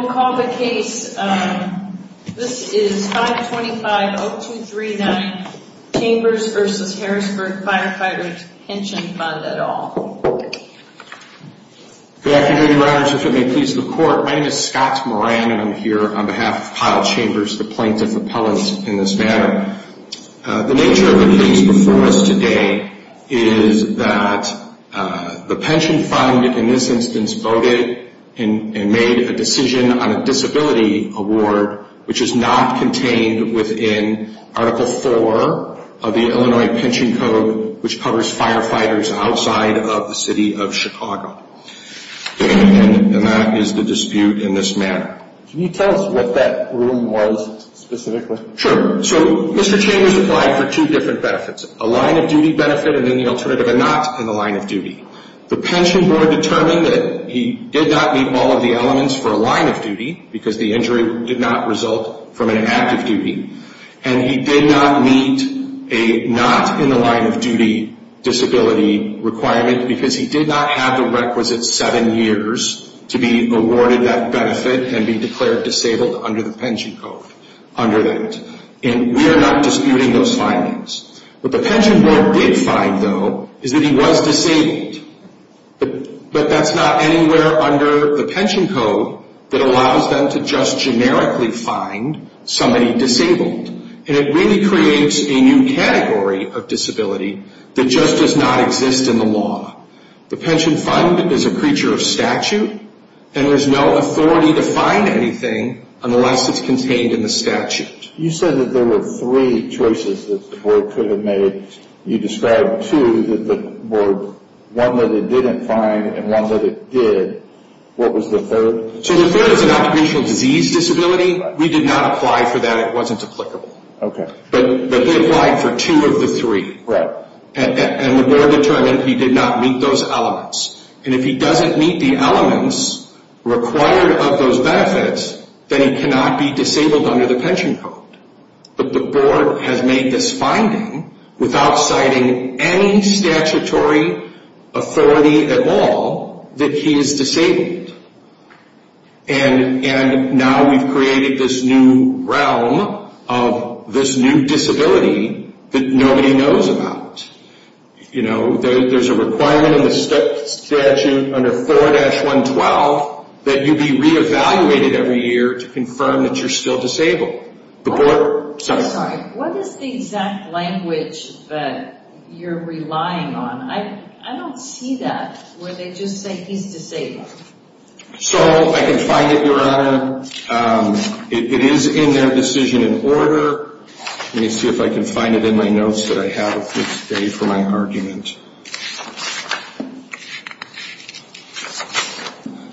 I will call the case. This is 525-0239 Chambers v. Harrisburg Firefighters' Pension Fund et al. Good afternoon, Your Honors. If it may please the Court, my name is Scott Moran and I'm here on behalf of Pyle Chambers, the plaintiff appellant in this matter. The nature of the case before us today is that the pension fund in this instance voted and made a decision on a disability award, which is not contained within Article 4 of the Illinois Pension Code, which covers firefighters outside of the City of Chicago. And that is the dispute in this matter. Can you tell us what that room was specifically? Sure. So Mr. Chambers applied for two different benefits, a line-of-duty benefit and then the alternative, a not-in-the-line-of-duty. The pension board determined that he did not meet all of the elements for a line-of-duty because the injury did not result from an active duty. And he did not meet a not-in-the-line-of-duty disability requirement because he did not have the requisite seven years to be awarded that benefit and be declared disabled under the pension code under that. And we are not disputing those findings. What the pension board did find, though, is that he was disabled. But that's not anywhere under the pension code that allows them to just generically find somebody disabled. And it really creates a new category of disability that just does not exist in the law. The pension fund is a creature of statute and has no authority to find anything unless it's contained in the statute. You said that there were three choices that the board could have made. You described two that the board, one that it didn't find and one that it did. What was the third? So the third is an occupational disease disability. We did not apply for that. It wasn't applicable. Okay. But they applied for two of the three. Right. And the board determined he did not meet those elements. And if he doesn't meet the elements required of those benefits, then he cannot be disabled under the pension code. But the board has made this finding without citing any statutory authority at all that he is disabled. And now we've created this new realm of this new disability that nobody knows about. You know, there's a requirement in the statute under 4-112 that you be re-evaluated every year to confirm that you're still disabled. Oh, I'm sorry. What is the exact language that you're relying on? I don't see that where they just say he's disabled. So I can find it, Your Honor. It is in their decision in order. Let me see if I can find it in my notes that I have with me today for my argument.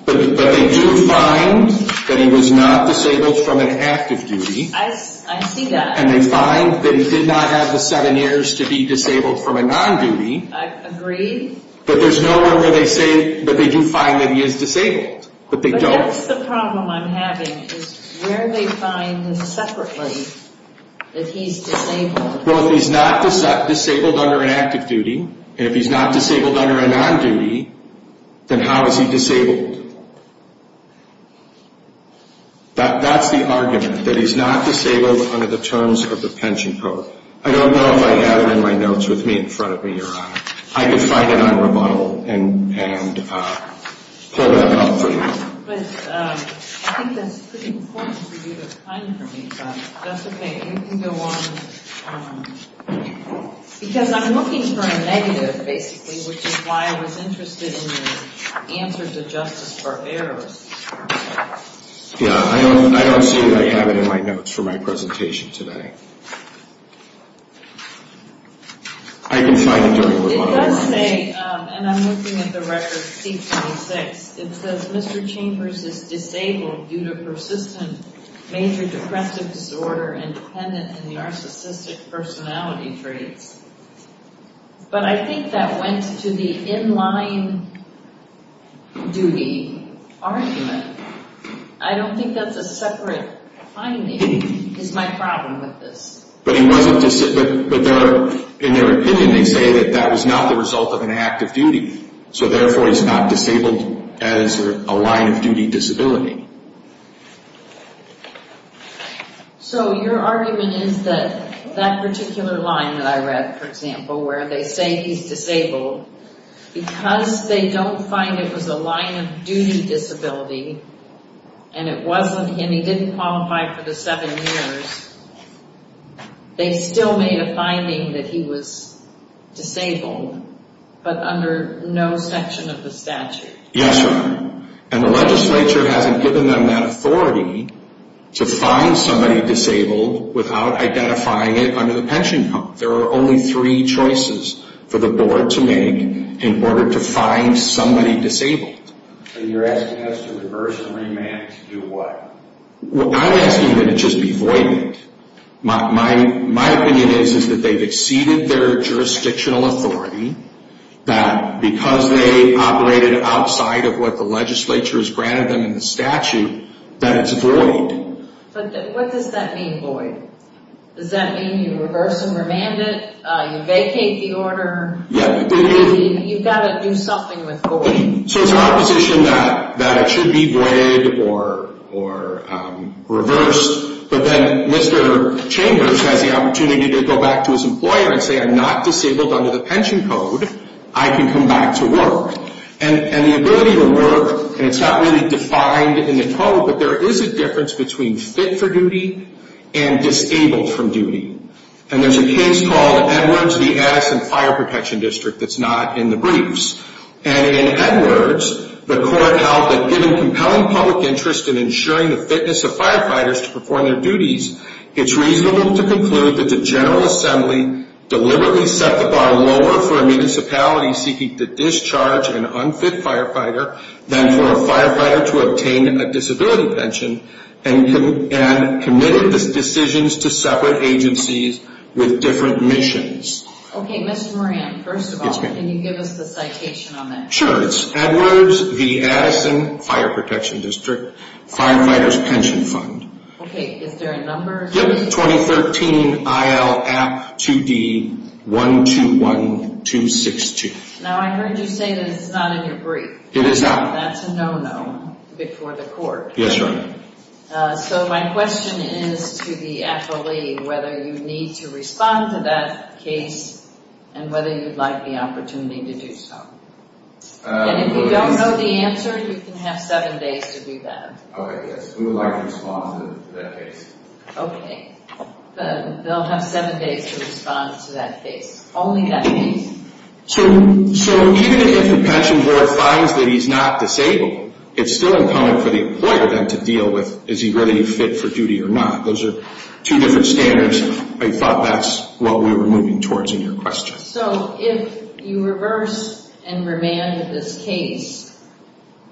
But they do find that he was not disabled from an active duty. I see that. And they find that he did not have the seven years to be disabled from a non-duty. I agree. But there's no one where they say that they do find that he is disabled, but they don't. But that's the problem I'm having is where they find separately that he's disabled. Well, if he's not disabled under an active duty, and if he's not disabled under a non-duty, then how is he disabled? That's the argument, that he's not disabled under the terms of the pension program. I don't know if I have it in my notes with me in front of me, Your Honor. I can find it on rebuttal and pull that out for you. But I think that's pretty important for you to find for me. That's okay. You can go on. Because I'm looking for a negative, basically, which is why I was interested in your answer to justice for errors. Yeah, I don't see that I have it in my notes for my presentation today. I can find it during rebuttal. It does say, and I'm looking at the record, seat 26. It says Mr. Chambers is disabled due to persistent major depressive disorder and dependent on narcissistic personality traits. But I think that went to the in-line duty argument. I don't think that's a separate finding is my problem with this. But he wasn't disabled, but in their opinion, they say that that was not the result of an active duty. So therefore, he's not disabled as a line-of-duty disability. So your argument is that that particular line that I read, for example, where they say he's disabled, because they don't find it was a line-of-duty disability and it wasn't him, he didn't qualify for the seven years, they still made a finding that he was disabled, but under no section of the statute. Yes, Your Honor. And the legislature hasn't given them that authority to find somebody disabled without identifying it under the pension code. There are only three choices for the board to make in order to find somebody disabled. And you're asking us to reverse the remand to do what? I'm asking you to just be voided. My opinion is that they've exceeded their jurisdictional authority, that because they operated outside of what the legislature has granted them in the statute, that it's void. But what does that mean, void? Does that mean you reverse the remand, you vacate the order? You've got to do something with void. So it's an opposition that it should be voided or reversed, but then Mr. Chambers has the opportunity to go back to his employer and say, I'm not disabled under the pension code, I can come back to work. And the ability to work, and it's not really defined in the code, but there is a difference between fit for duty and disabled from duty. And there's a case called Edwards v. Addison Fire Protection District that's not in the briefs. And in Edwards, the court held that given compelling public interest in ensuring the fitness of firefighters to perform their duties, it's reasonable to conclude that the General Assembly deliberately set the bar lower for a municipality seeking to discharge an unfit firefighter than for a firefighter to obtain a disability pension and committed the decisions to separate agencies with different missions. Okay, Mr. Moran, first of all, can you give us the citation on that? Sure, it's Edwards v. Addison Fire Protection District, Firefighters Pension Fund. Okay, is there a number? Yep, 2013 IL App 2D 121262. Now I heard you say that it's not in your brief. It is not. That's a no-no before the court. Yes, Your Honor. So my question is to the affilee whether you need to respond to that case and whether you'd like the opportunity to do so. And if you don't know the answer, you can have seven days to do that. Okay, yes, we would like to respond to that case. Okay, they'll have seven days to respond to that case, only that case. So even if the pension board finds that he's not disabled, it's still incumbent for the employer then to deal with is he really fit for duty or not. Those are two different standards. I thought that's what we were moving towards in your question. So if you reverse and remanded this case,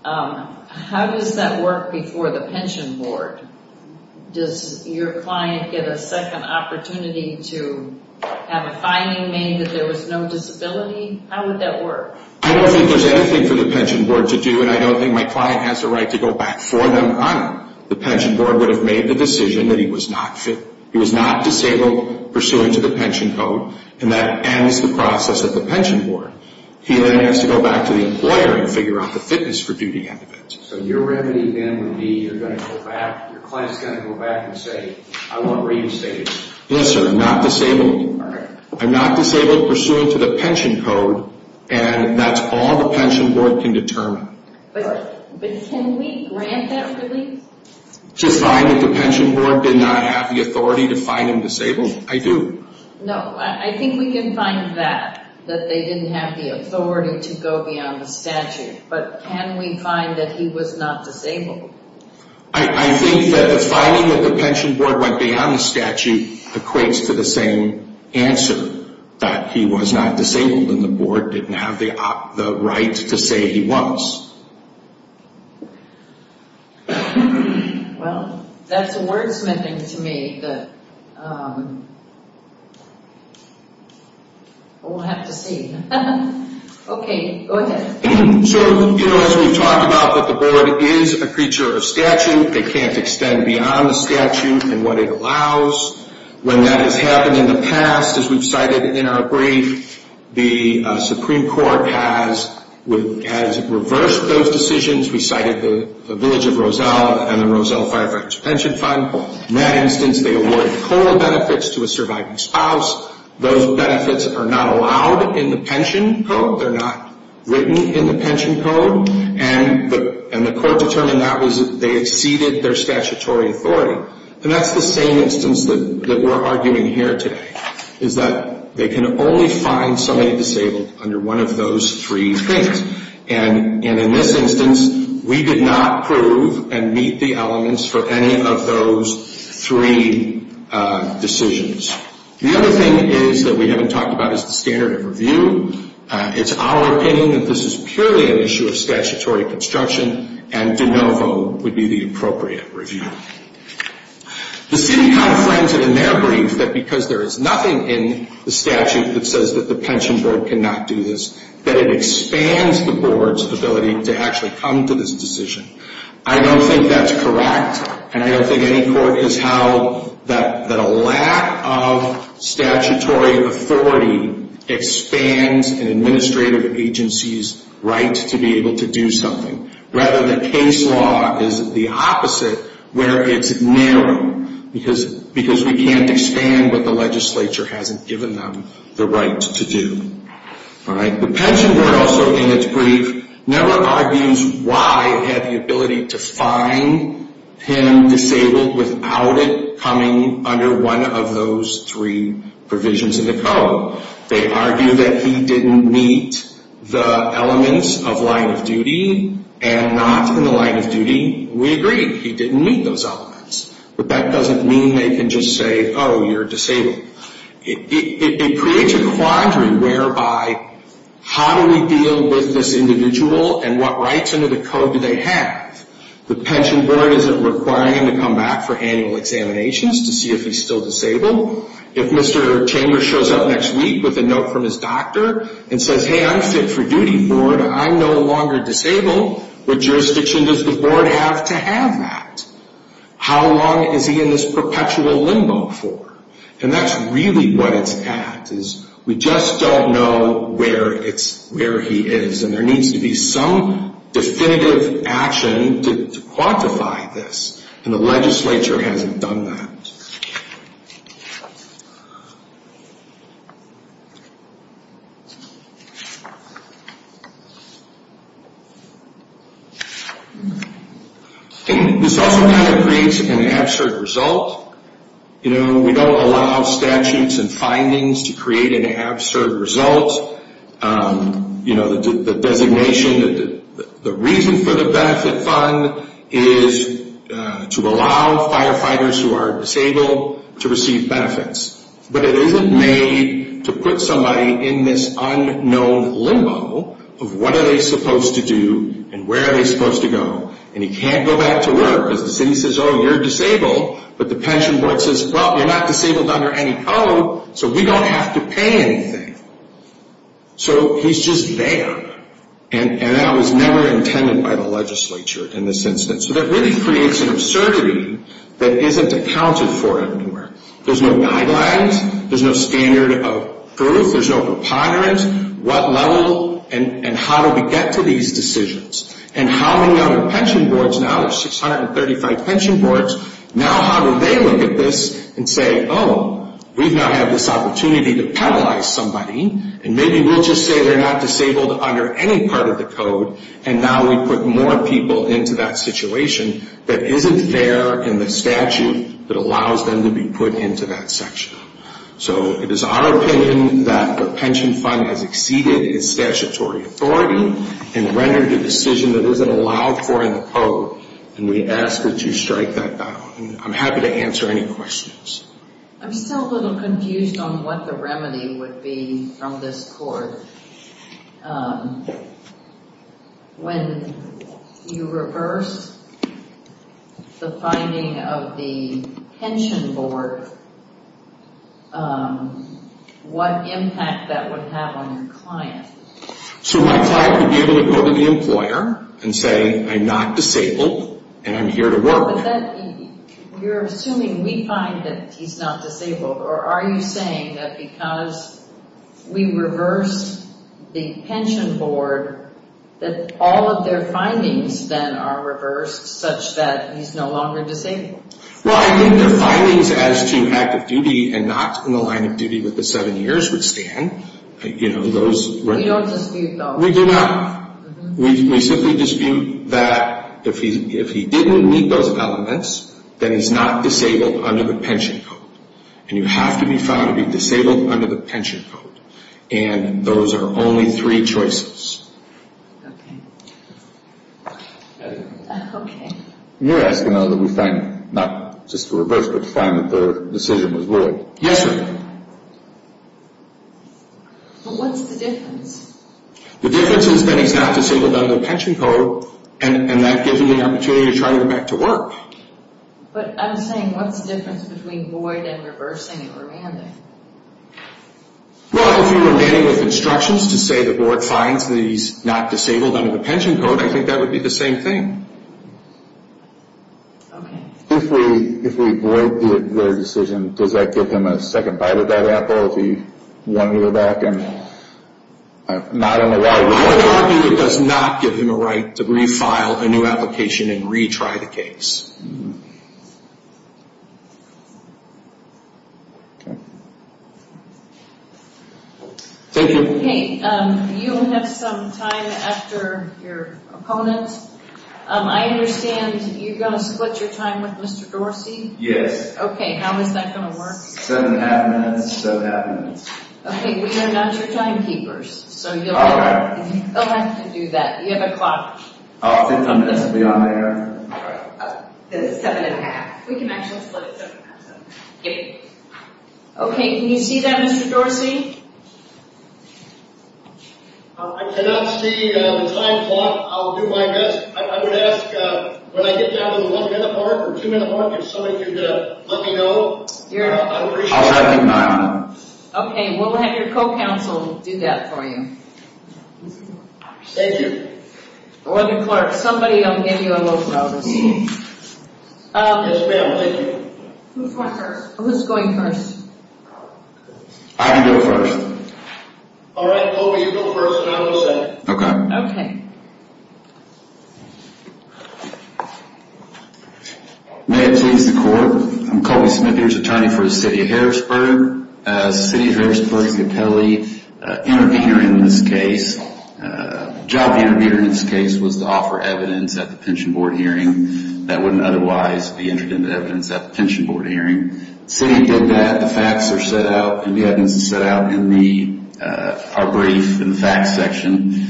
how does that work before the pension board? Does your client get a second opportunity to have a finding made that there was no disability? How would that work? I don't think there's anything for the pension board to do, and I don't think my client has the right to go back for an honor. The pension board would have made the decision that he was not fit. He was not disabled pursuant to the pension code, and that ends the process of the pension board. He then has to go back to the employer and figure out the fitness for duty end of it. So your remedy then would be you're going to go back. Your client is going to go back and say, I want reinstated. Yes, sir, I'm not disabled. All right. And that's all the pension board can determine. But can we grant that release? To find that the pension board did not have the authority to find him disabled? I do. No, I think we can find that, that they didn't have the authority to go beyond the statute. But can we find that he was not disabled? I think that the finding that the pension board went beyond the statute equates to the same answer, that he was not disabled and the board didn't have the right to say he was. Well, that's a wordsmithing to me that we'll have to see. Okay, go ahead. So, you know, as we've talked about, that the board is a creature of statute. They can't extend beyond the statute and what it allows. When that has happened in the past, as we've cited in our brief, the Supreme Court has reversed those decisions. We cited the village of Roselle and the Roselle Fire Branch Pension Fund. In that instance, they awarded COLA benefits to a surviving spouse. Those benefits are not allowed in the pension code. They're not written in the pension code. And the court determined that they exceeded their statutory authority. And that's the same instance that we're arguing here today, is that they can only find somebody disabled under one of those three things. And in this instance, we did not prove and meet the elements for any of those three decisions. The other thing is that we haven't talked about is the standard of review. It's our opinion that this is purely an issue of statutory construction, and de novo would be the appropriate review. The city confronted in their brief that because there is nothing in the statute that says that the pension board cannot do this, that it expands the board's ability to actually come to this decision. I don't think that's correct, and I don't think any court has held that a lack of statutory authority expands an administrative agency's right to be able to do something. Rather, the case law is the opposite, where it's narrow, because we can't expand what the legislature hasn't given them the right to do. The pension board also, in its brief, never argues why it had the ability to find him disabled without it coming under one of those three provisions in the code. They argue that he didn't meet the elements of line of duty, and not in the line of duty. We agree, he didn't meet those elements. But that doesn't mean they can just say, oh, you're disabled. It creates a quandary whereby, how do we deal with this individual, and what rights under the code do they have? The pension board isn't requiring him to come back for annual examinations to see if he's still disabled. If Mr. Chambers shows up next week with a note from his doctor and says, hey, I'm fit for duty, board, I'm no longer disabled, what jurisdiction does the board have to have that? How long is he in this perpetual limbo for? And that's really what it's at, is we just don't know where he is. And there needs to be some definitive action to quantify this. And the legislature hasn't done that. This also kind of creates an absurd result. We don't allow statutes and findings to create an absurd result. The designation, the reason for the benefit fund is to allow firefighters who are disabled to receive benefits. But it isn't made to put somebody in this unknown limbo of what are they supposed to do and where are they supposed to go. And he can't go back to work because the city says, oh, you're disabled. But the pension board says, well, you're not disabled under any code, so we don't have to pay anything. So he's just there. And that was never intended by the legislature in this instance. So that really creates an absurdity that isn't accounted for anywhere. There's no guidelines. There's no standard of proof. There's no preponderance. What level and how do we get to these decisions? And how many other pension boards now? There's 635 pension boards. Now how do they look at this and say, oh, we now have this opportunity to penalize somebody. And maybe we'll just say they're not disabled under any part of the code. And now we put more people into that situation that isn't there in the statute that allows them to be put into that section. So it is our opinion that the pension fund has exceeded its statutory authority and rendered a decision that isn't allowed for in the code, and we ask that you strike that down. And I'm happy to answer any questions. I'm still a little confused on what the remedy would be from this court. When you reverse the finding of the pension board, what impact that would have on your client? So my client would be able to go to the employer and say, I'm not disabled, and I'm here to work. You're assuming we find that he's not disabled, or are you saying that because we reverse the pension board, that all of their findings then are reversed such that he's no longer disabled? Well, I think their findings as to active duty and not in the line of duty with the seven years would stand. We don't dispute those. We do not. We simply dispute that if he didn't meet those elements, then he's not disabled under the pension code. And you have to be found to be disabled under the pension code. And those are only three choices. Okay. Okay. You're asking, though, that we find not just the reverse, but find that the decision was void. Yes, ma'am. But what's the difference? The difference is that he's not disabled under the pension code, and that gives him the opportunity to try to go back to work. But I'm saying what's the difference between void and reversing and remanding? Well, if you're remanding with instructions to say the board finds that he's not disabled under the pension code, I think that would be the same thing. Okay. If we void the decision, does that give him a second bite of that apple if he wanted to go back and not in the line of duty? I would argue it does not give him a right to refile a new application and retry the case. Okay. Thank you. Okay. You have some time after your opponent. I understand you're going to split your time with Mr. Dorsey? Yes. Okay. How is that going to work? Seven and a half minutes, seven and a half minutes. Okay. We are not your timekeepers, so you'll have to do that. You have a clock? How often does it be on there? Seven and a half. We can actually split it seven and a half. Okay. Okay. Can you see that, Mr. Dorsey? I cannot see the time clock. I'll do my best. I would ask when I get down to the one minute mark or two minute mark, if somebody could let me know. I appreciate it. Okay. We'll have your co-counsel do that for you. Thank you. Or the clerk. Somebody will give you a motion on this. Yes, ma'am. Thank you. Who's going first? I can go first. All right, Colby. You go first, and I'll go second. Okay. May it please the court, I'm Colby Smith. Here's attorney for the city of Harrisburg. City of Harrisburg's appellee intervened in this case. The job of the intervener in this case was to offer evidence at the pension board hearing that wouldn't otherwise be entered into evidence at the pension board hearing. The city did that. The facts are set out, and the evidence is set out in our brief in the facts section.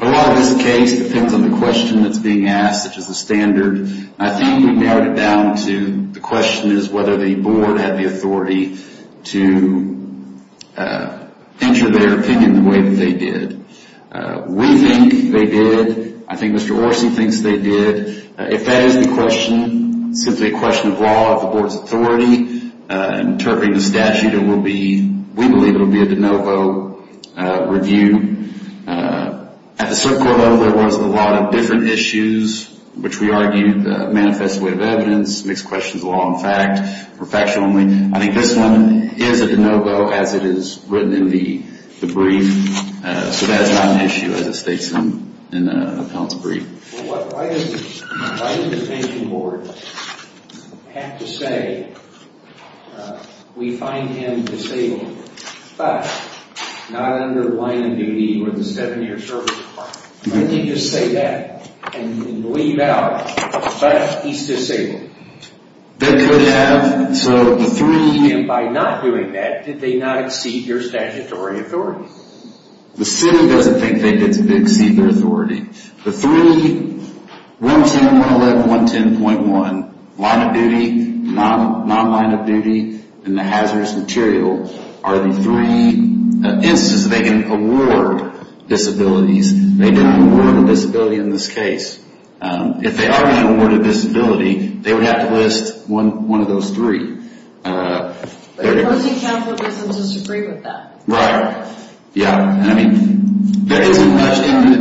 A lot of this case depends on the question that's being asked, such as the standard. I think we narrowed it down to the question is whether the board had the authority to enter their opinion the way that they did. We think they did. I think Mr. Orson thinks they did. If that is the question, simply a question of law, of the board's authority, interpreting the statute, we believe it will be a de novo review. At the subcourt level, there was a lot of different issues, which we argued the manifest way of evidence, mixed questions of law and fact, perfection only. I think this one is a de novo, as it is written in the brief, so that is not an issue, as it states in the appellant's brief. Why does the pension board have to say, we find him disabled, but not under the line of duty or the seven-year service requirement? Why can't you just say that and leave out, but he's disabled? By not doing that, did they not exceed your statutory authority? The city doesn't think they did exceed their authority. The three, 110, 111, 110.1, line of duty, non-line of duty, and the hazardous material are the three instances they can award disabilities. They didn't award a disability in this case. If they are going to award a disability, they would have to list one of those three. But the opposing counsel doesn't disagree with that. Right. In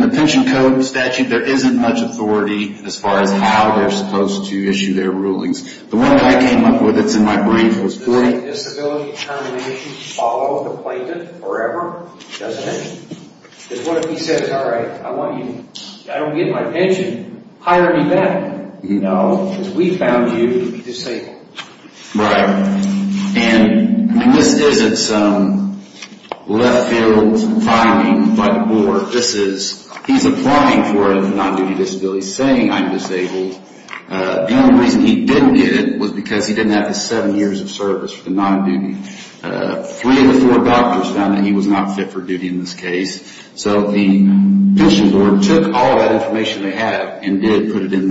the pension code statute, there isn't much authority as far as how they are supposed to issue their rulings. The way I came up with it, it's in my brief. Does the disability termination follow the plaintiff forever? Doesn't it? Because what if he says, all right, I don't get my pension, hire me back. No, because we found you to be disabled. Right. And this isn't some left field finding, but more this is he's applying for a non-duty disability, saying I'm disabled. The only reason he didn't get it was because he didn't have his seven years of service for the non-duty. Three of the four doctors found that he was not fit for duty in this case. So the pension board took all that information they had and did put it in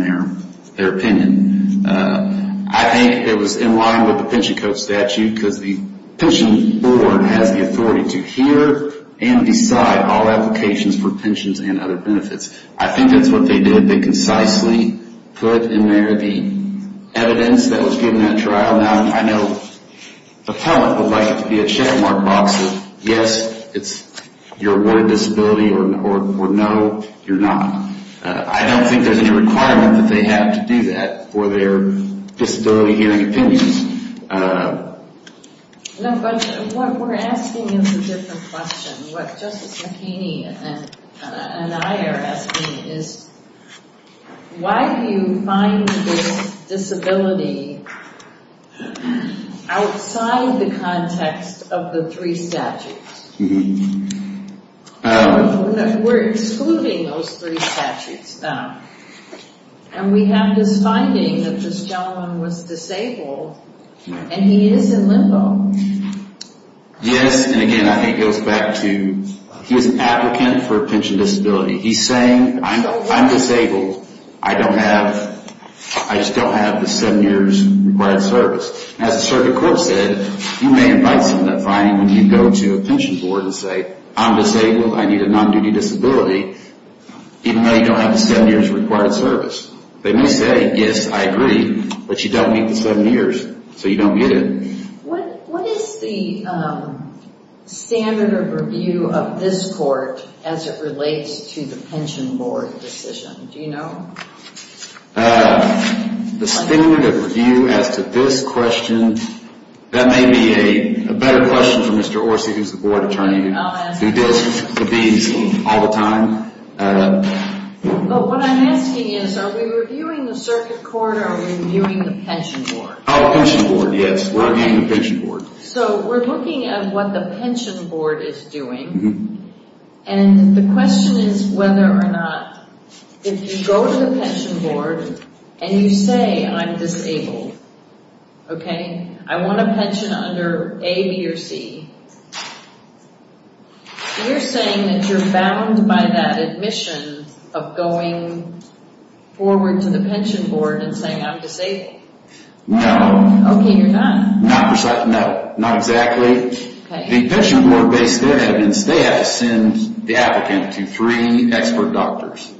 their opinion. I think it was in line with the pension code statute because the pension board has the authority to hear and decide all applications for pensions and other benefits. I think that's what they did. They concisely put in there the evidence that was given at trial. Now, I know the appellant would like it to be a checkmark box of yes, you're awarded disability or no, you're not. I don't think there's any requirement that they have to do that for their disability hearing opinions. No, but what we're asking is a different question. What Justice McHaney and I are asking is why do you find this disability outside the context of the three statutes? We're excluding those three statutes now. And we have this finding that this gentleman was disabled and he is in limbo. Yes, and again, I think it goes back to he was an applicant for a pension disability. He's saying, I'm disabled. I don't have, I just don't have the seven years required service. As the circuit court said, you may invite some of that finding when you go to a pension board and say, I'm disabled, I need a non-duty disability, even though you don't have the seven years required service. They may say, yes, I agree, but you don't meet the seven years, so you don't get it. What is the standard of review of this court as it relates to the pension board decision? Do you know? The standard of review as to this question, that may be a better question for Mr. Orsi, who's the board attorney, who deals with these all the time. But what I'm asking is, are we reviewing the circuit court or are we reviewing the pension board? Oh, pension board, yes. We're reviewing the pension board. So we're looking at what the pension board is doing. And the question is whether or not, if you go to the pension board and you say, I'm disabled, okay, I want a pension under A, B, or C, you're saying that you're bound by that admission of going forward to the pension board and saying, I'm disabled. No. Okay, you're not. No, not exactly. The pension board based their evidence, they had to send the applicant to three expert doctors.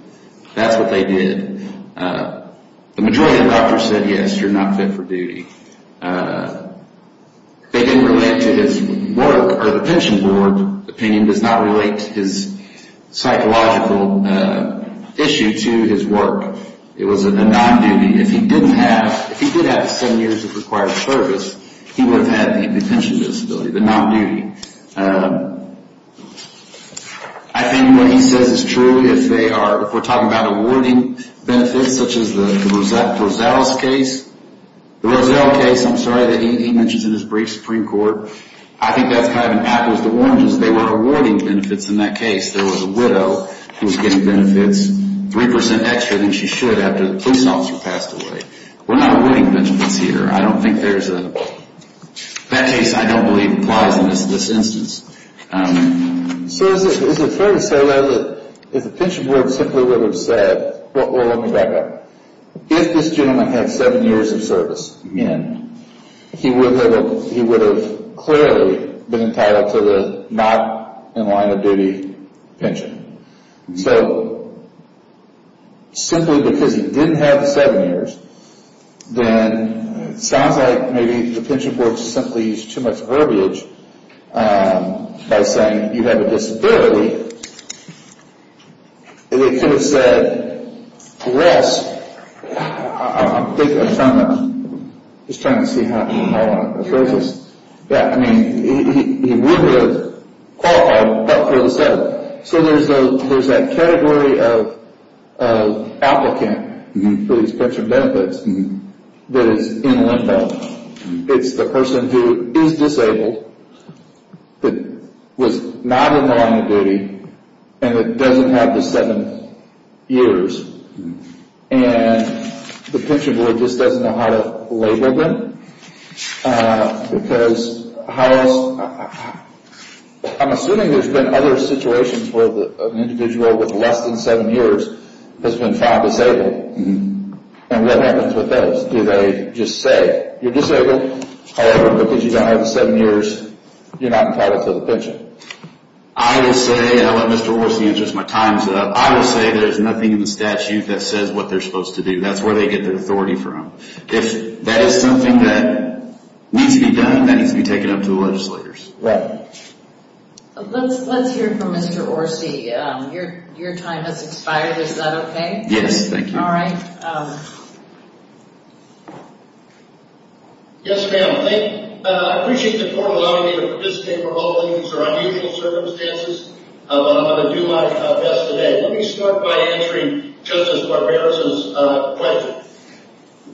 That's what they did. The majority of doctors said, yes, you're not fit for duty. They didn't relate to his work, or the pension board opinion does not relate to his psychological issue to his work. It was a non-duty. If he did have the seven years of required service, he would have had the pension disability, the non-duty. I think what he says is true if they are, if we're talking about awarding benefits such as the Roselle case. The Roselle case, I'm sorry that he mentions it in his brief, Supreme Court. I think that's kind of impactful. The orange is they were awarding benefits in that case. There was a widow who was getting benefits 3% extra than she should after the police officer passed away. We're not awarding benefits here. I don't think there's a, that case I don't believe applies in this instance. So is it fair to say that if the pension board simply would have said, well, let me back up. If this gentleman had seven years of service, he would have clearly been entitled to the not-in-line-of-duty pension. So simply because he didn't have the seven years, then it sounds like maybe the pension board simply used too much verbiage by saying you have a disability, and they could have said, yes. I'm just trying to see how I'm phrasing this. Yeah, I mean, he would have qualified, but for the seven. So there's that category of applicant for these pension benefits that is in limbo. It's the person who is disabled, that was not in the line of duty, and that doesn't have the seven years. And the pension board just doesn't know how to label them. Because I'm assuming there's been other situations where an individual with less than seven years has been found disabled. And what happens with those? What do they just say? You're disabled, however, because you don't have the seven years, you're not entitled to the pension. I would say, and I'll let Mr. Orsi answer this, my time's up. I would say there's nothing in the statute that says what they're supposed to do. That's where they get their authority from. If that is something that needs to be done, that needs to be taken up to the legislators. Right. Let's hear from Mr. Orsi. Your time has expired. Is that okay? Yes, thank you. All right. Yes, ma'am. I appreciate the court allowing me to participate for all of these unusual circumstances, but I'm going to do my best today. Let me start by answering Justice Barbera's question.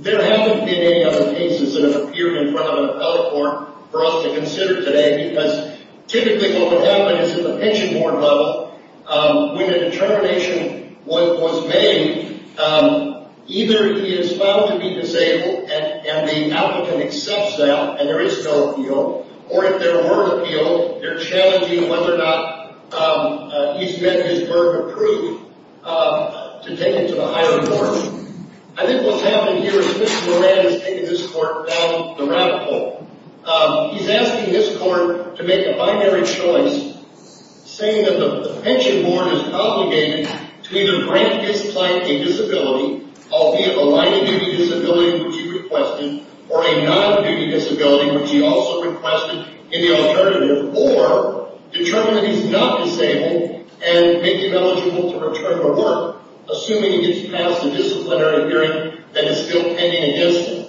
There haven't been any other cases that have appeared in front of an appellate court for us to consider today, because typically what will happen is at the pension board level, when a determination was made, either he is found to be disabled and the applicant accepts that and there is no appeal, or if there were an appeal, they're challenging whether or not he's met his burden of proof to take him to the higher courts. I think what's happening here is Mr. Moran is taking this court down the rabbit hole. He's asking this court to make a binary choice, saying that the pension board is obligated to either grant this client a disability, albeit a minor duty disability, which he requested, or a non-duty disability, which he also requested in the alternative, or determine that he's not disabled and make him eligible to return to work, assuming he gets past the disciplinary hearing that is still pending against him.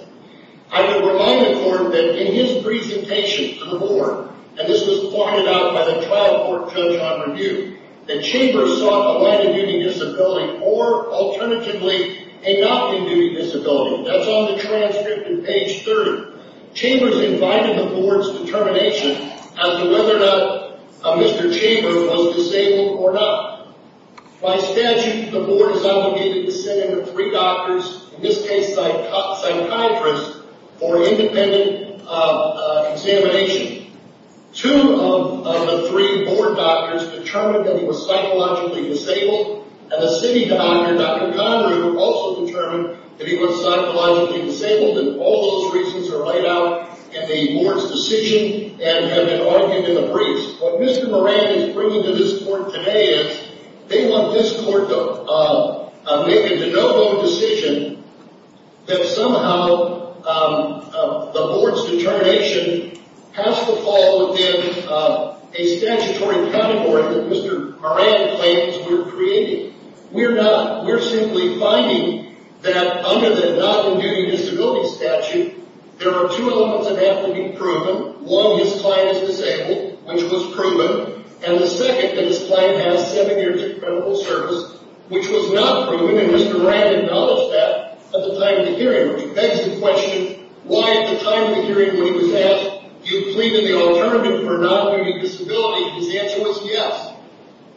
I would remind the court that in his presentation to the board, and this was pointed out by the trial court judge on review, that Chambers sought a minor duty disability or, alternatively, a non-duty disability. That's on the transcript in page 30. Chambers invited the board's determination as to whether or not Mr. Chambers was disabled or not. By statute, the board is obligated to send in the three doctors, in this case, psychiatrists, for independent examination. Two of the three board doctors determined that he was psychologically disabled, and the city doctor, Dr. Conrad, also determined that he was psychologically disabled, and all those reasons are laid out in the board's decision and have been argued in the briefs. What Mr. Moran is bringing to this court today is they want this court to make a de novo decision that somehow the board's determination has to fall within a statutory category that Mr. Moran claims we're creating. We're not. We're simply finding that under the non-duty disability statute, there are two elements that have to be proven. One, his client is disabled, which was proven, and the second, that his client has seven years of criminal service, which was not proven, and Mr. Moran acknowledged that at the time of the hearing, which begs the question, why at the time of the hearing when he was asked, do you plead in the alternative for non-duty disability, his answer was yes.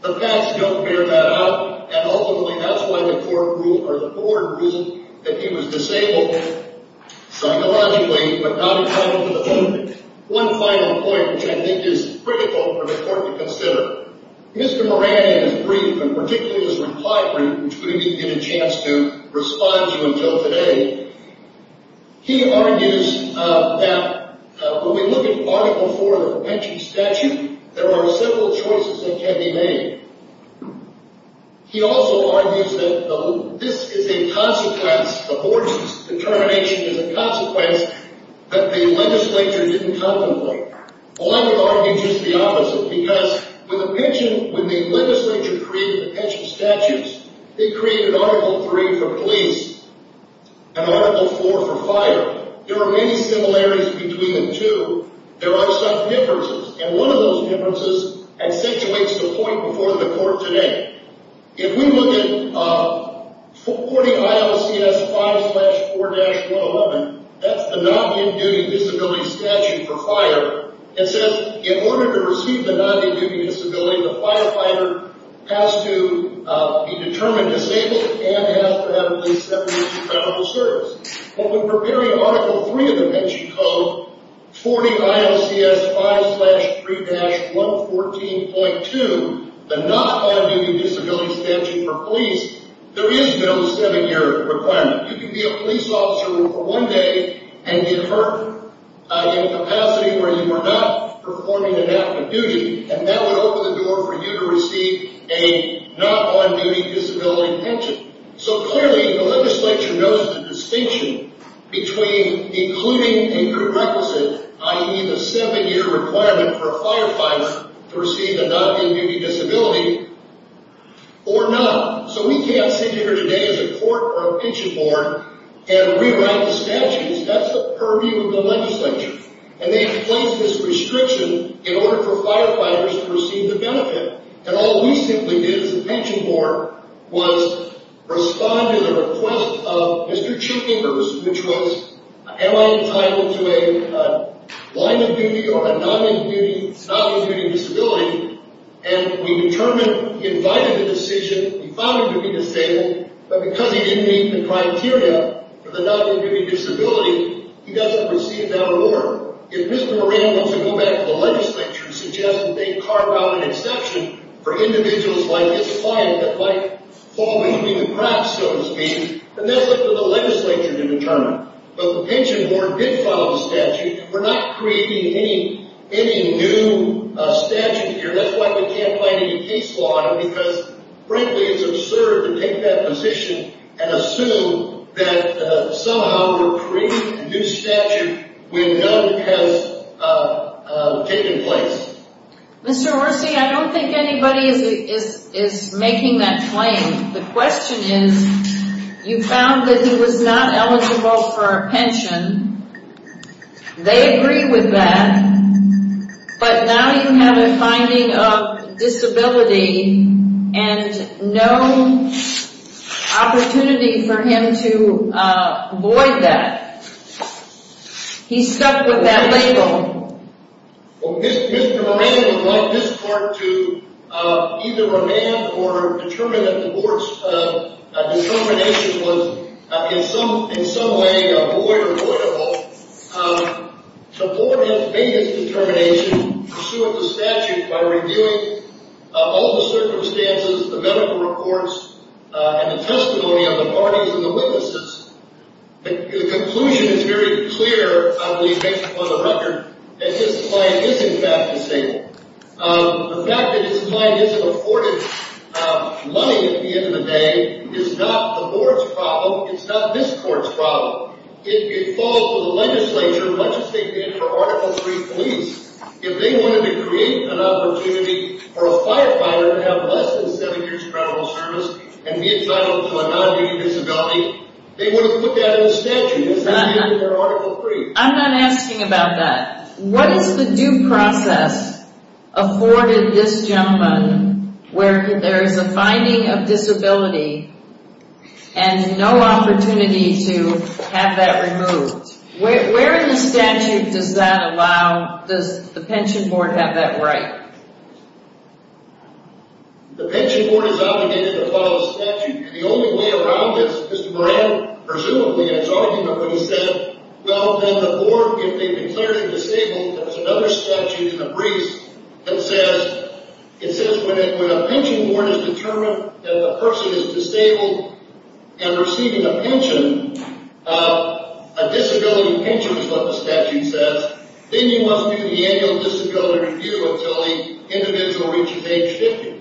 The facts don't bear that out, and ultimately that's why the court ruled, or the board ruled, that he was disabled. Psychologically, but not in having to defend it. One final point, which I think is critical for the court to consider. Mr. Moran, in his brief, and particularly his reply brief, which we didn't get a chance to respond to until today, he argues that when we look at Article IV of the Pension Statute, there are several choices that can be made. He also argues that this is a consequence, the board's determination is a consequence, that the legislature didn't contemplate. Well, I would argue just the opposite, because with the pension, when the legislature created the pension statutes, they created Article III for police and Article IV for fire. There are many similarities between the two. There are some differences, and one of those differences accentuates the point before the court today. If we look at 40 ILCS 5-4-11, that's the non-duty disability statute for fire, it says in order to receive the non-duty disability, the firefighter has to be determined disabled and has to have at least 70 years of medical service. Well, when preparing Article III of the pension code, 40 ILCS 5-3-114.2, the non-duty disability statute for police, there is no 70-year requirement. You can be a police officer for one day and get hurt in a capacity where you are not performing an active duty, and that would open the door for you to receive a non-duty disability pension. So clearly, the legislature knows the distinction between including a prerequisite, i.e. the 70-year requirement for a firefighter to receive a non-duty disability, or not. So we can't sit here today as a court or a pension board and rewrite the statutes. That's the purview of the legislature. And they have placed this restriction in order for firefighters to receive the benefit. And all we simply did as a pension board was respond to the request of Mr. Chu Ingers, which was, am I entitled to a line of duty or a non-duty disability? And we determined, invited the decision, we found him to be disabled, but because he didn't meet the criteria for the non-duty disability, he doesn't receive that award. If Mr. Moran wants to go back to the legislature and suggest that they carve out an exception for individuals like this client that might fall into the cracks, so to speak, then that's up to the legislature to determine. But the pension board did file the statute. We're not creating any new statute here. That's why we can't find any case law, because frankly, it's absurd to take that position and assume that somehow we're creating a new statute when none has taken place. Mr. Orsi, I don't think anybody is making that claim. The question is, you found that he was not eligible for a pension. They agree with that. But now you have a finding of disability and no opportunity for him to avoid that. He's stuck with that label. Well, Mr. Moran would like this court to either remand or determine that the board's determination was in some way avoidable. The board has made its determination pursuant to statute by reviewing all the circumstances, the medical reports, and the testimony of the parties and the witnesses. The conclusion is very clear on the record that this client is in fact disabled. The fact that this client isn't afforded money at the end of the day is not the board's problem. It's not this court's problem. It falls to the legislature, much as they did for Article III police. If they wanted to create an opportunity for a firefighter to have less than seven years' credible service and be entitled to a non-dating disability, they would have put that in the statute as they did for Article III. I'm not asking about that. What is the due process afforded this gentleman where there is a finding of disability and no opportunity to have that removed? Where in the statute does that allow, does the pension board have that right? The pension board is obligated to follow statute. And the only way around this, Mr. Moran, presumably, in his argument when he said, well, then the board, if they've declared him disabled, there's another statute in the briefs that says when a pension board has determined that a person is disabled and receiving a pension, a disability pension is what the statute says, then you must do the annual disability review until the individual reaches age 50.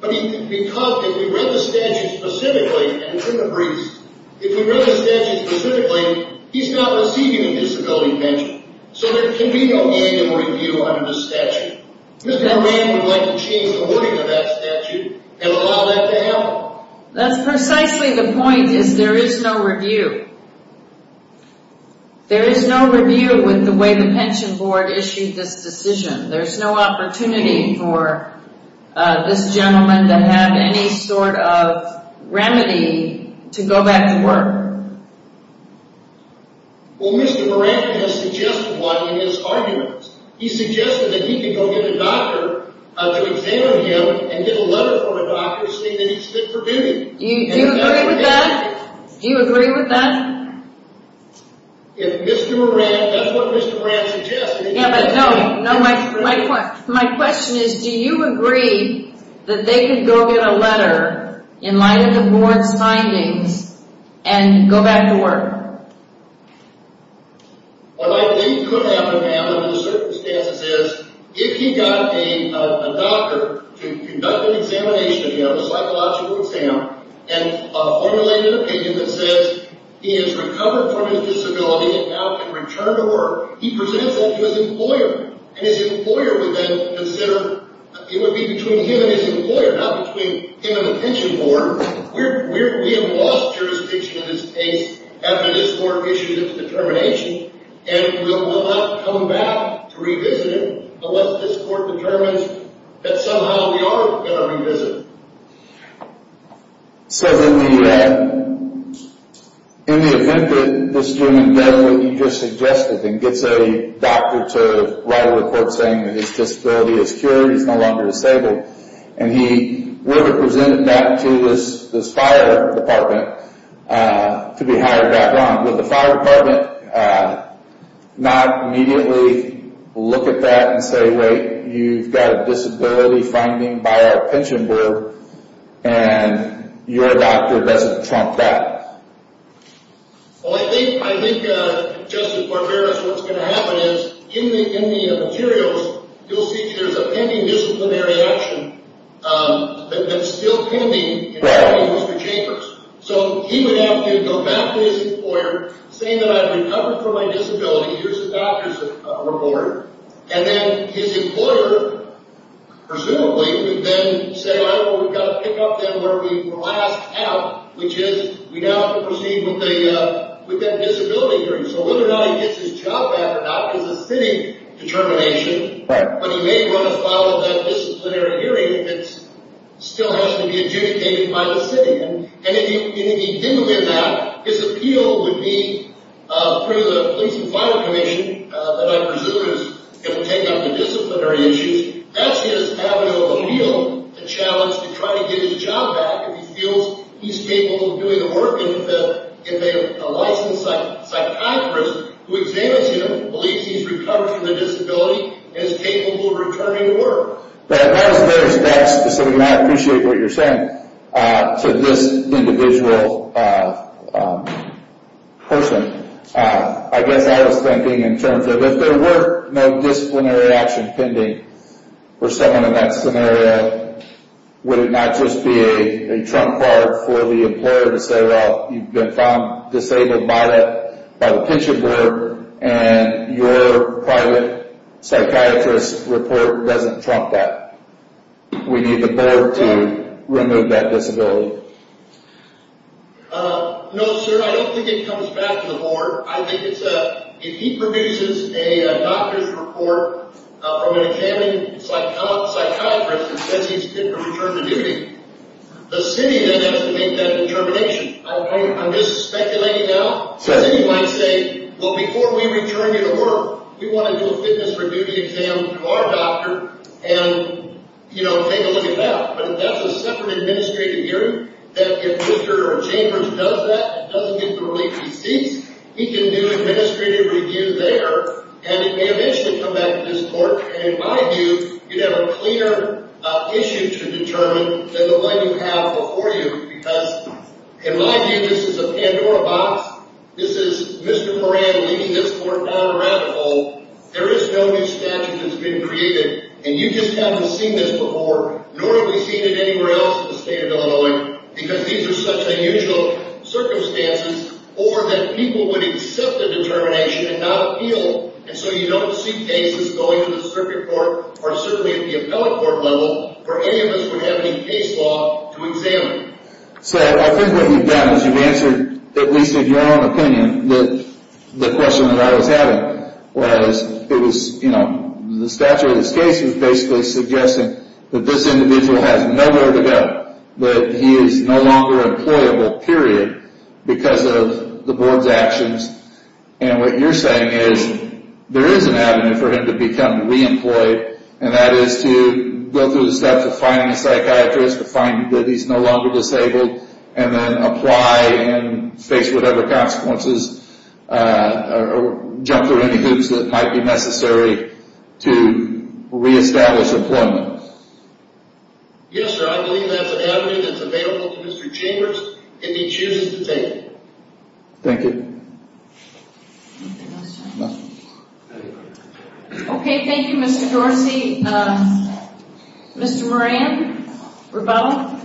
But because if we read the statute specifically, and it's in the briefs, if we read the statute specifically, he's not receiving a disability pension. So there can be no annual review under this statute. Mr. Moran would like to change the wording of that statute and allow that to happen. That's precisely the point, is there is no review. There is no review with the way the pension board issued this decision. There's no opportunity for this gentleman to have any sort of remedy to go back to work. Well, Mr. Moran has suggested one in his arguments. He suggested that he could go get a doctor to examine him and get a letter from a doctor saying that he's fit for duty. Do you agree with that? Do you agree with that? If Mr. Moran, that's what Mr. Moran suggested. Yeah, but no, my question is, do you agree that they could go get a letter in light of the board's findings and go back to work? What I think could happen, ma'am, under the circumstances is, if he got a doctor to conduct an examination, a psychological exam, and formulated an opinion that says he has recovered from his disability and now can return to work, he presents that to his employer. And his employer would then consider, it would be between him and his employer, not between him and the pension board. We have lost jurisdiction in this case after this court issued its determination, and we will not come back to revisit it unless this court determines that somehow we are going to revisit it. So in the event that this gentleman does what you just suggested and gets a doctor to write a report saying that his disability is cured, he's no longer disabled, and he would have presented that to this fire department to be hired back on. Would the fire department not immediately look at that and say, wait, you've got a disability finding by our pension board, and your doctor doesn't trump that? Well, I think, Justice Barbera, what's going to happen is, in the materials, you'll see there's a pending disciplinary action that's still pending in every one of those two chambers. So he would have to go back to his employer saying that I've recovered from my disability. Here's the doctor's report. And then his employer, presumably, would then say, all right, well, we've got to pick up then where we were last at, which is we now have to proceed with that disability hearing. So whether or not he gets his job back or not is a city determination. But he may want to follow that disciplinary hearing if it still has to be adjudicated by the city. And if he didn't win that, his appeal would be through the police and fire commission, that I presume is going to take up the disciplinary issues. That's his avenue of appeal to challenge to try to get his job back if he feels he's capable of doing the work, and if a licensed psychiatrist who examines him believes he's recovered from the disability and is capable of returning to work. That was very specific, and I appreciate what you're saying to this individual person. I guess I was thinking in terms of if there were no disciplinary action pending for someone in that scenario, would it not just be a trump card for the employer to say, well, you've been found disabled by the pension board, and your private psychiatrist report doesn't trump that. We need the board to remove that disability. No, sir, I don't think it comes back to the board. If he produces a doctor's report from an examining psychiatrist and says he's fit to return to duty, the city then has to make that determination. I'm just speculating now. The city might say, well, before we return you to work, we want to do a fitness for duty exam to our doctor and take a look at that. But if that's a separate administrative hearing, that if Mr. Chambers does that, doesn't get the release he seeks, he can do administrative review there, and it may eventually come back to this court. And in my view, you'd have a cleaner issue to determine than the one you have before you, because in my view, this is a Pandora box. This is Mr. Moran leading this court down a rabbit hole. There is no new statute that's been created, and you just haven't seen this before, nor have we seen it anywhere else in the state of Illinois, because these are such unusual circumstances, or that people would accept the determination and not appeal. And so you don't see cases going to the circuit court, or certainly at the appellate court level, where any of us would have any case law to examine. So I think what you've done is you've answered, at least in your own opinion, the question that I was having, was the statute of this case was basically suggesting that this individual has nowhere to go, that he is no longer employable, period, because of the board's actions. And what you're saying is there is an avenue for him to become re-employed, and that is to go through the steps of finding a psychiatrist, to find that he's no longer disabled, and then apply and face whatever consequences, or jump through any hoops that might be necessary to re-establish employment. Yes, sir, I believe that's an avenue that's available to Mr. Chambers, and he chooses to take it. Thank you. Okay, thank you, Mr. Dorsey. Mr. Moran?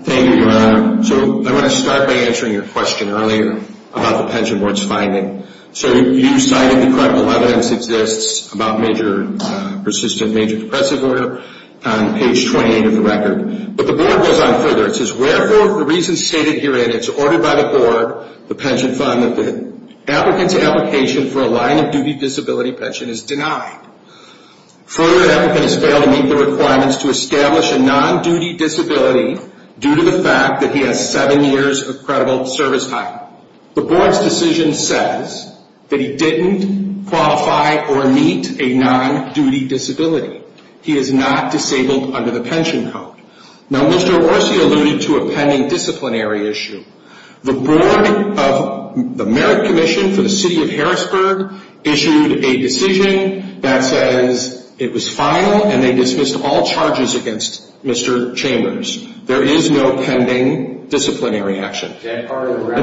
Thank you, Your Honor. So I want to start by answering your question earlier about the Pension Board's finding. So you cited the correct evidence exists about persistent major depressive order on page 28 of the record. But the board goes on further. It says, wherefore, for reasons stated herein, it's ordered by the board, the pension fund, that the applicant's application for a line-of-duty disability pension is denied. Further, the applicant has failed to meet the requirements to establish a non-duty disability due to the fact that he has seven years of credible service time. The board's decision says that he didn't qualify or meet a non-duty disability. He is not disabled under the pension code. Now, Mr. Dorsey alluded to a pending disciplinary issue. The board of the Merit Commission for the City of Harrisburg issued a decision that says it was final, and they dismissed all charges against Mr. Chambers. There is no pending disciplinary action. And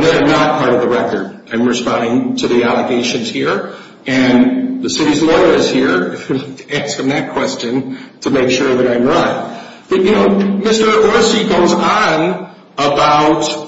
that is not part of the record. I'm responding to the allegations here. And the city's lawyer is here to ask him that question to make sure that I'm right. But, you know, Mr. Dorsey goes on about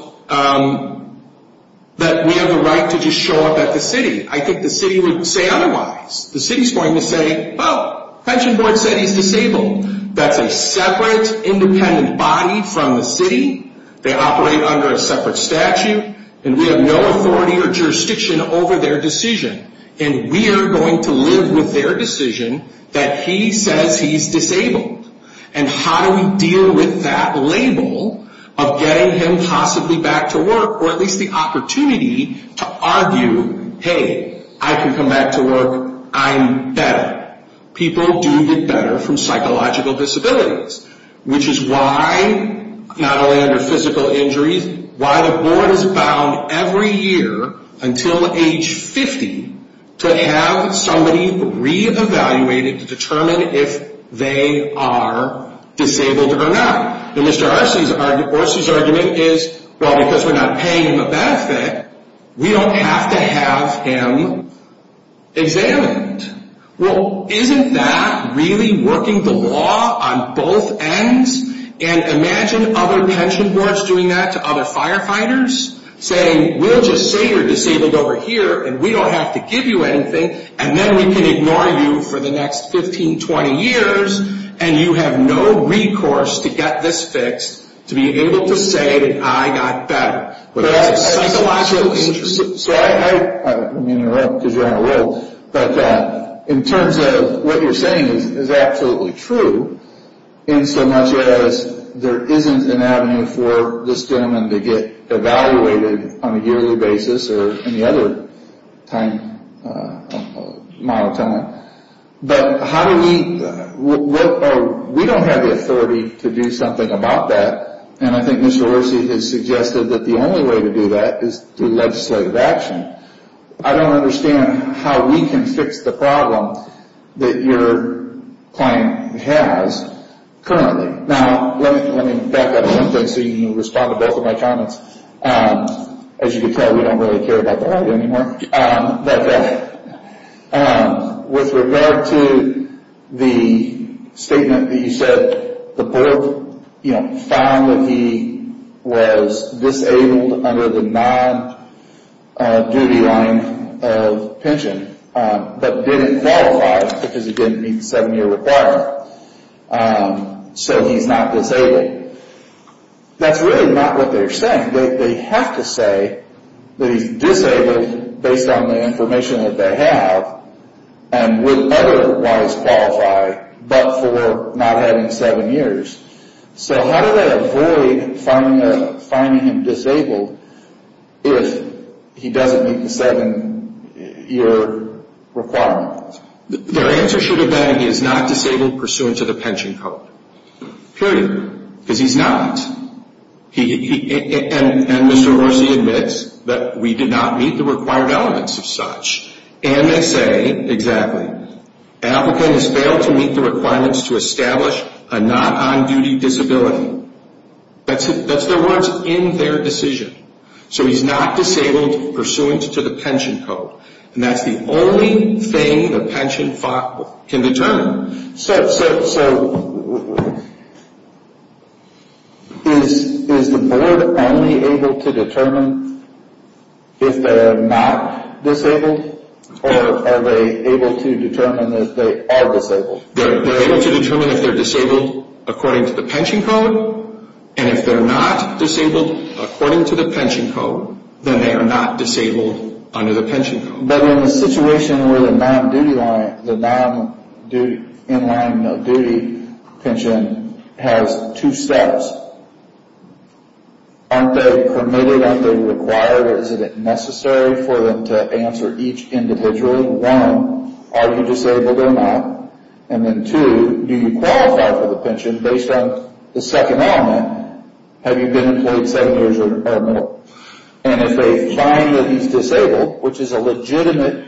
that we have a right to just show up at the city. I think the city would say otherwise. The city's going to say, oh, pension board said he's disabled. That's a separate independent body from the city. They operate under a separate statute. And we have no authority or jurisdiction over their decision. And we are going to live with their decision that he says he's disabled. And how do we deal with that label of getting him possibly back to work, or at least the opportunity to argue, hey, I can come back to work. I'm better. People do get better from psychological disabilities, which is why, not only under physical injuries, why the board is bound every year until age 50 to have somebody re-evaluated to determine if they are disabled or not. And Mr. Dorsey's argument is, well, because we're not paying him a benefit, we don't have to have him examined. Well, isn't that really working the law on both ends? And imagine other pension boards doing that to other firefighters, saying we'll just say you're disabled over here, and we don't have to give you anything, and then we can ignore you for the next 15, 20 years, and you have no recourse to get this fixed to be able to say that I got better. But that's a psychological interest. So I'm interrupting because you're on a roll, but in terms of what you're saying is absolutely true, in so much as there isn't an avenue for this gentleman to get evaluated on a yearly basis or any other time, but how do we, we don't have the authority to do something about that, and I think Mr. Dorsey has suggested that the only way to do that is through legislative action. I don't understand how we can fix the problem that your client has currently. Now, let me back up a little bit so you can respond to both of my comments. As you can tell, we don't really care about the lawyer anymore. But with regard to the statement that you said the board, you know, found that he was disabled under the non-duty line of pension, but didn't qualify because he didn't meet the seven-year requirement, so he's not disabled. That's really not what they're saying. They have to say that he's disabled based on the information that they have and would otherwise qualify but for not having seven years. So how do they avoid finding him disabled if he doesn't meet the seven-year requirement? Their answer should have been he is not disabled pursuant to the pension code, period, because he's not. And Mr. Dorsey admits that we did not meet the required elements of such. And they say, exactly, applicant has failed to meet the requirements to establish a not-on-duty disability. That's their words in their decision. So he's not disabled pursuant to the pension code. And that's the only thing the pension can determine. So is the board only able to determine if they're not disabled, or are they able to determine that they are disabled? They're able to determine if they're disabled according to the pension code, and if they're not disabled according to the pension code, then they are not disabled under the pension code. But in the situation where the non-in-line-of-duty pension has two steps, aren't they permitted, aren't they required, isn't it necessary for them to answer each individually? One, are you disabled or not? And then two, do you qualify for the pension based on the second element, have you been employed seven years or more? And if they find that he's disabled, which is a legitimate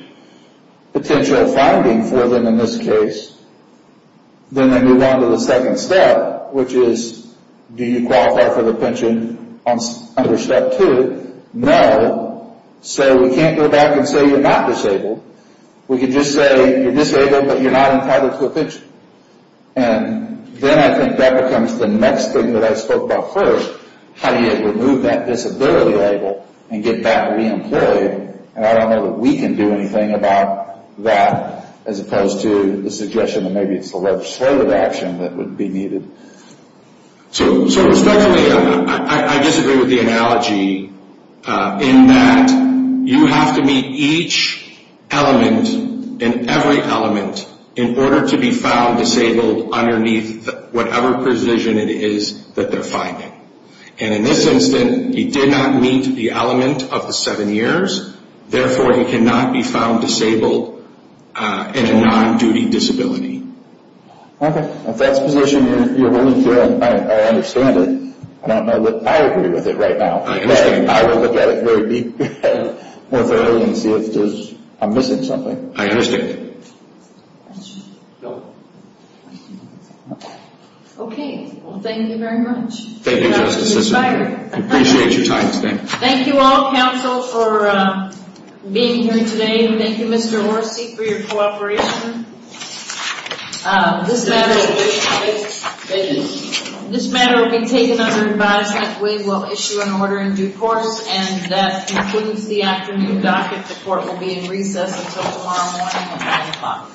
potential finding for them in this case, then they move on to the second step, which is, do you qualify for the pension under step two? No, so we can't go back and say you're not disabled. We can just say you're disabled, but you're not entitled to a pension. And then I think that becomes the next thing that I spoke about first, how do you remove that disability label and get back re-employed, and I don't know that we can do anything about that, as opposed to the suggestion that maybe it's a less slurred option that would be needed. So respectfully, I disagree with the analogy in that you have to meet each element, in every element, in order to be found disabled underneath whatever position it is that they're finding. And in this instance, he did not meet the element of the seven years, therefore he cannot be found disabled in a non-duty disability. Okay, if that's the position you're willing to go in, I understand it. I don't know that I agree with it right now. I understand. I will look at it more thoroughly and see if I'm missing something. I understand. Okay, well thank you very much. Thank you, Justice Sisson. I appreciate your time today. Thank you all, counsel, for being here today, and thank you, Mr. Orsi, for your cooperation. This matter will be taken under advisement. We will issue an order in due course, and that concludes the afternoon docket. The court will be in recess until tomorrow morning at 9 o'clock.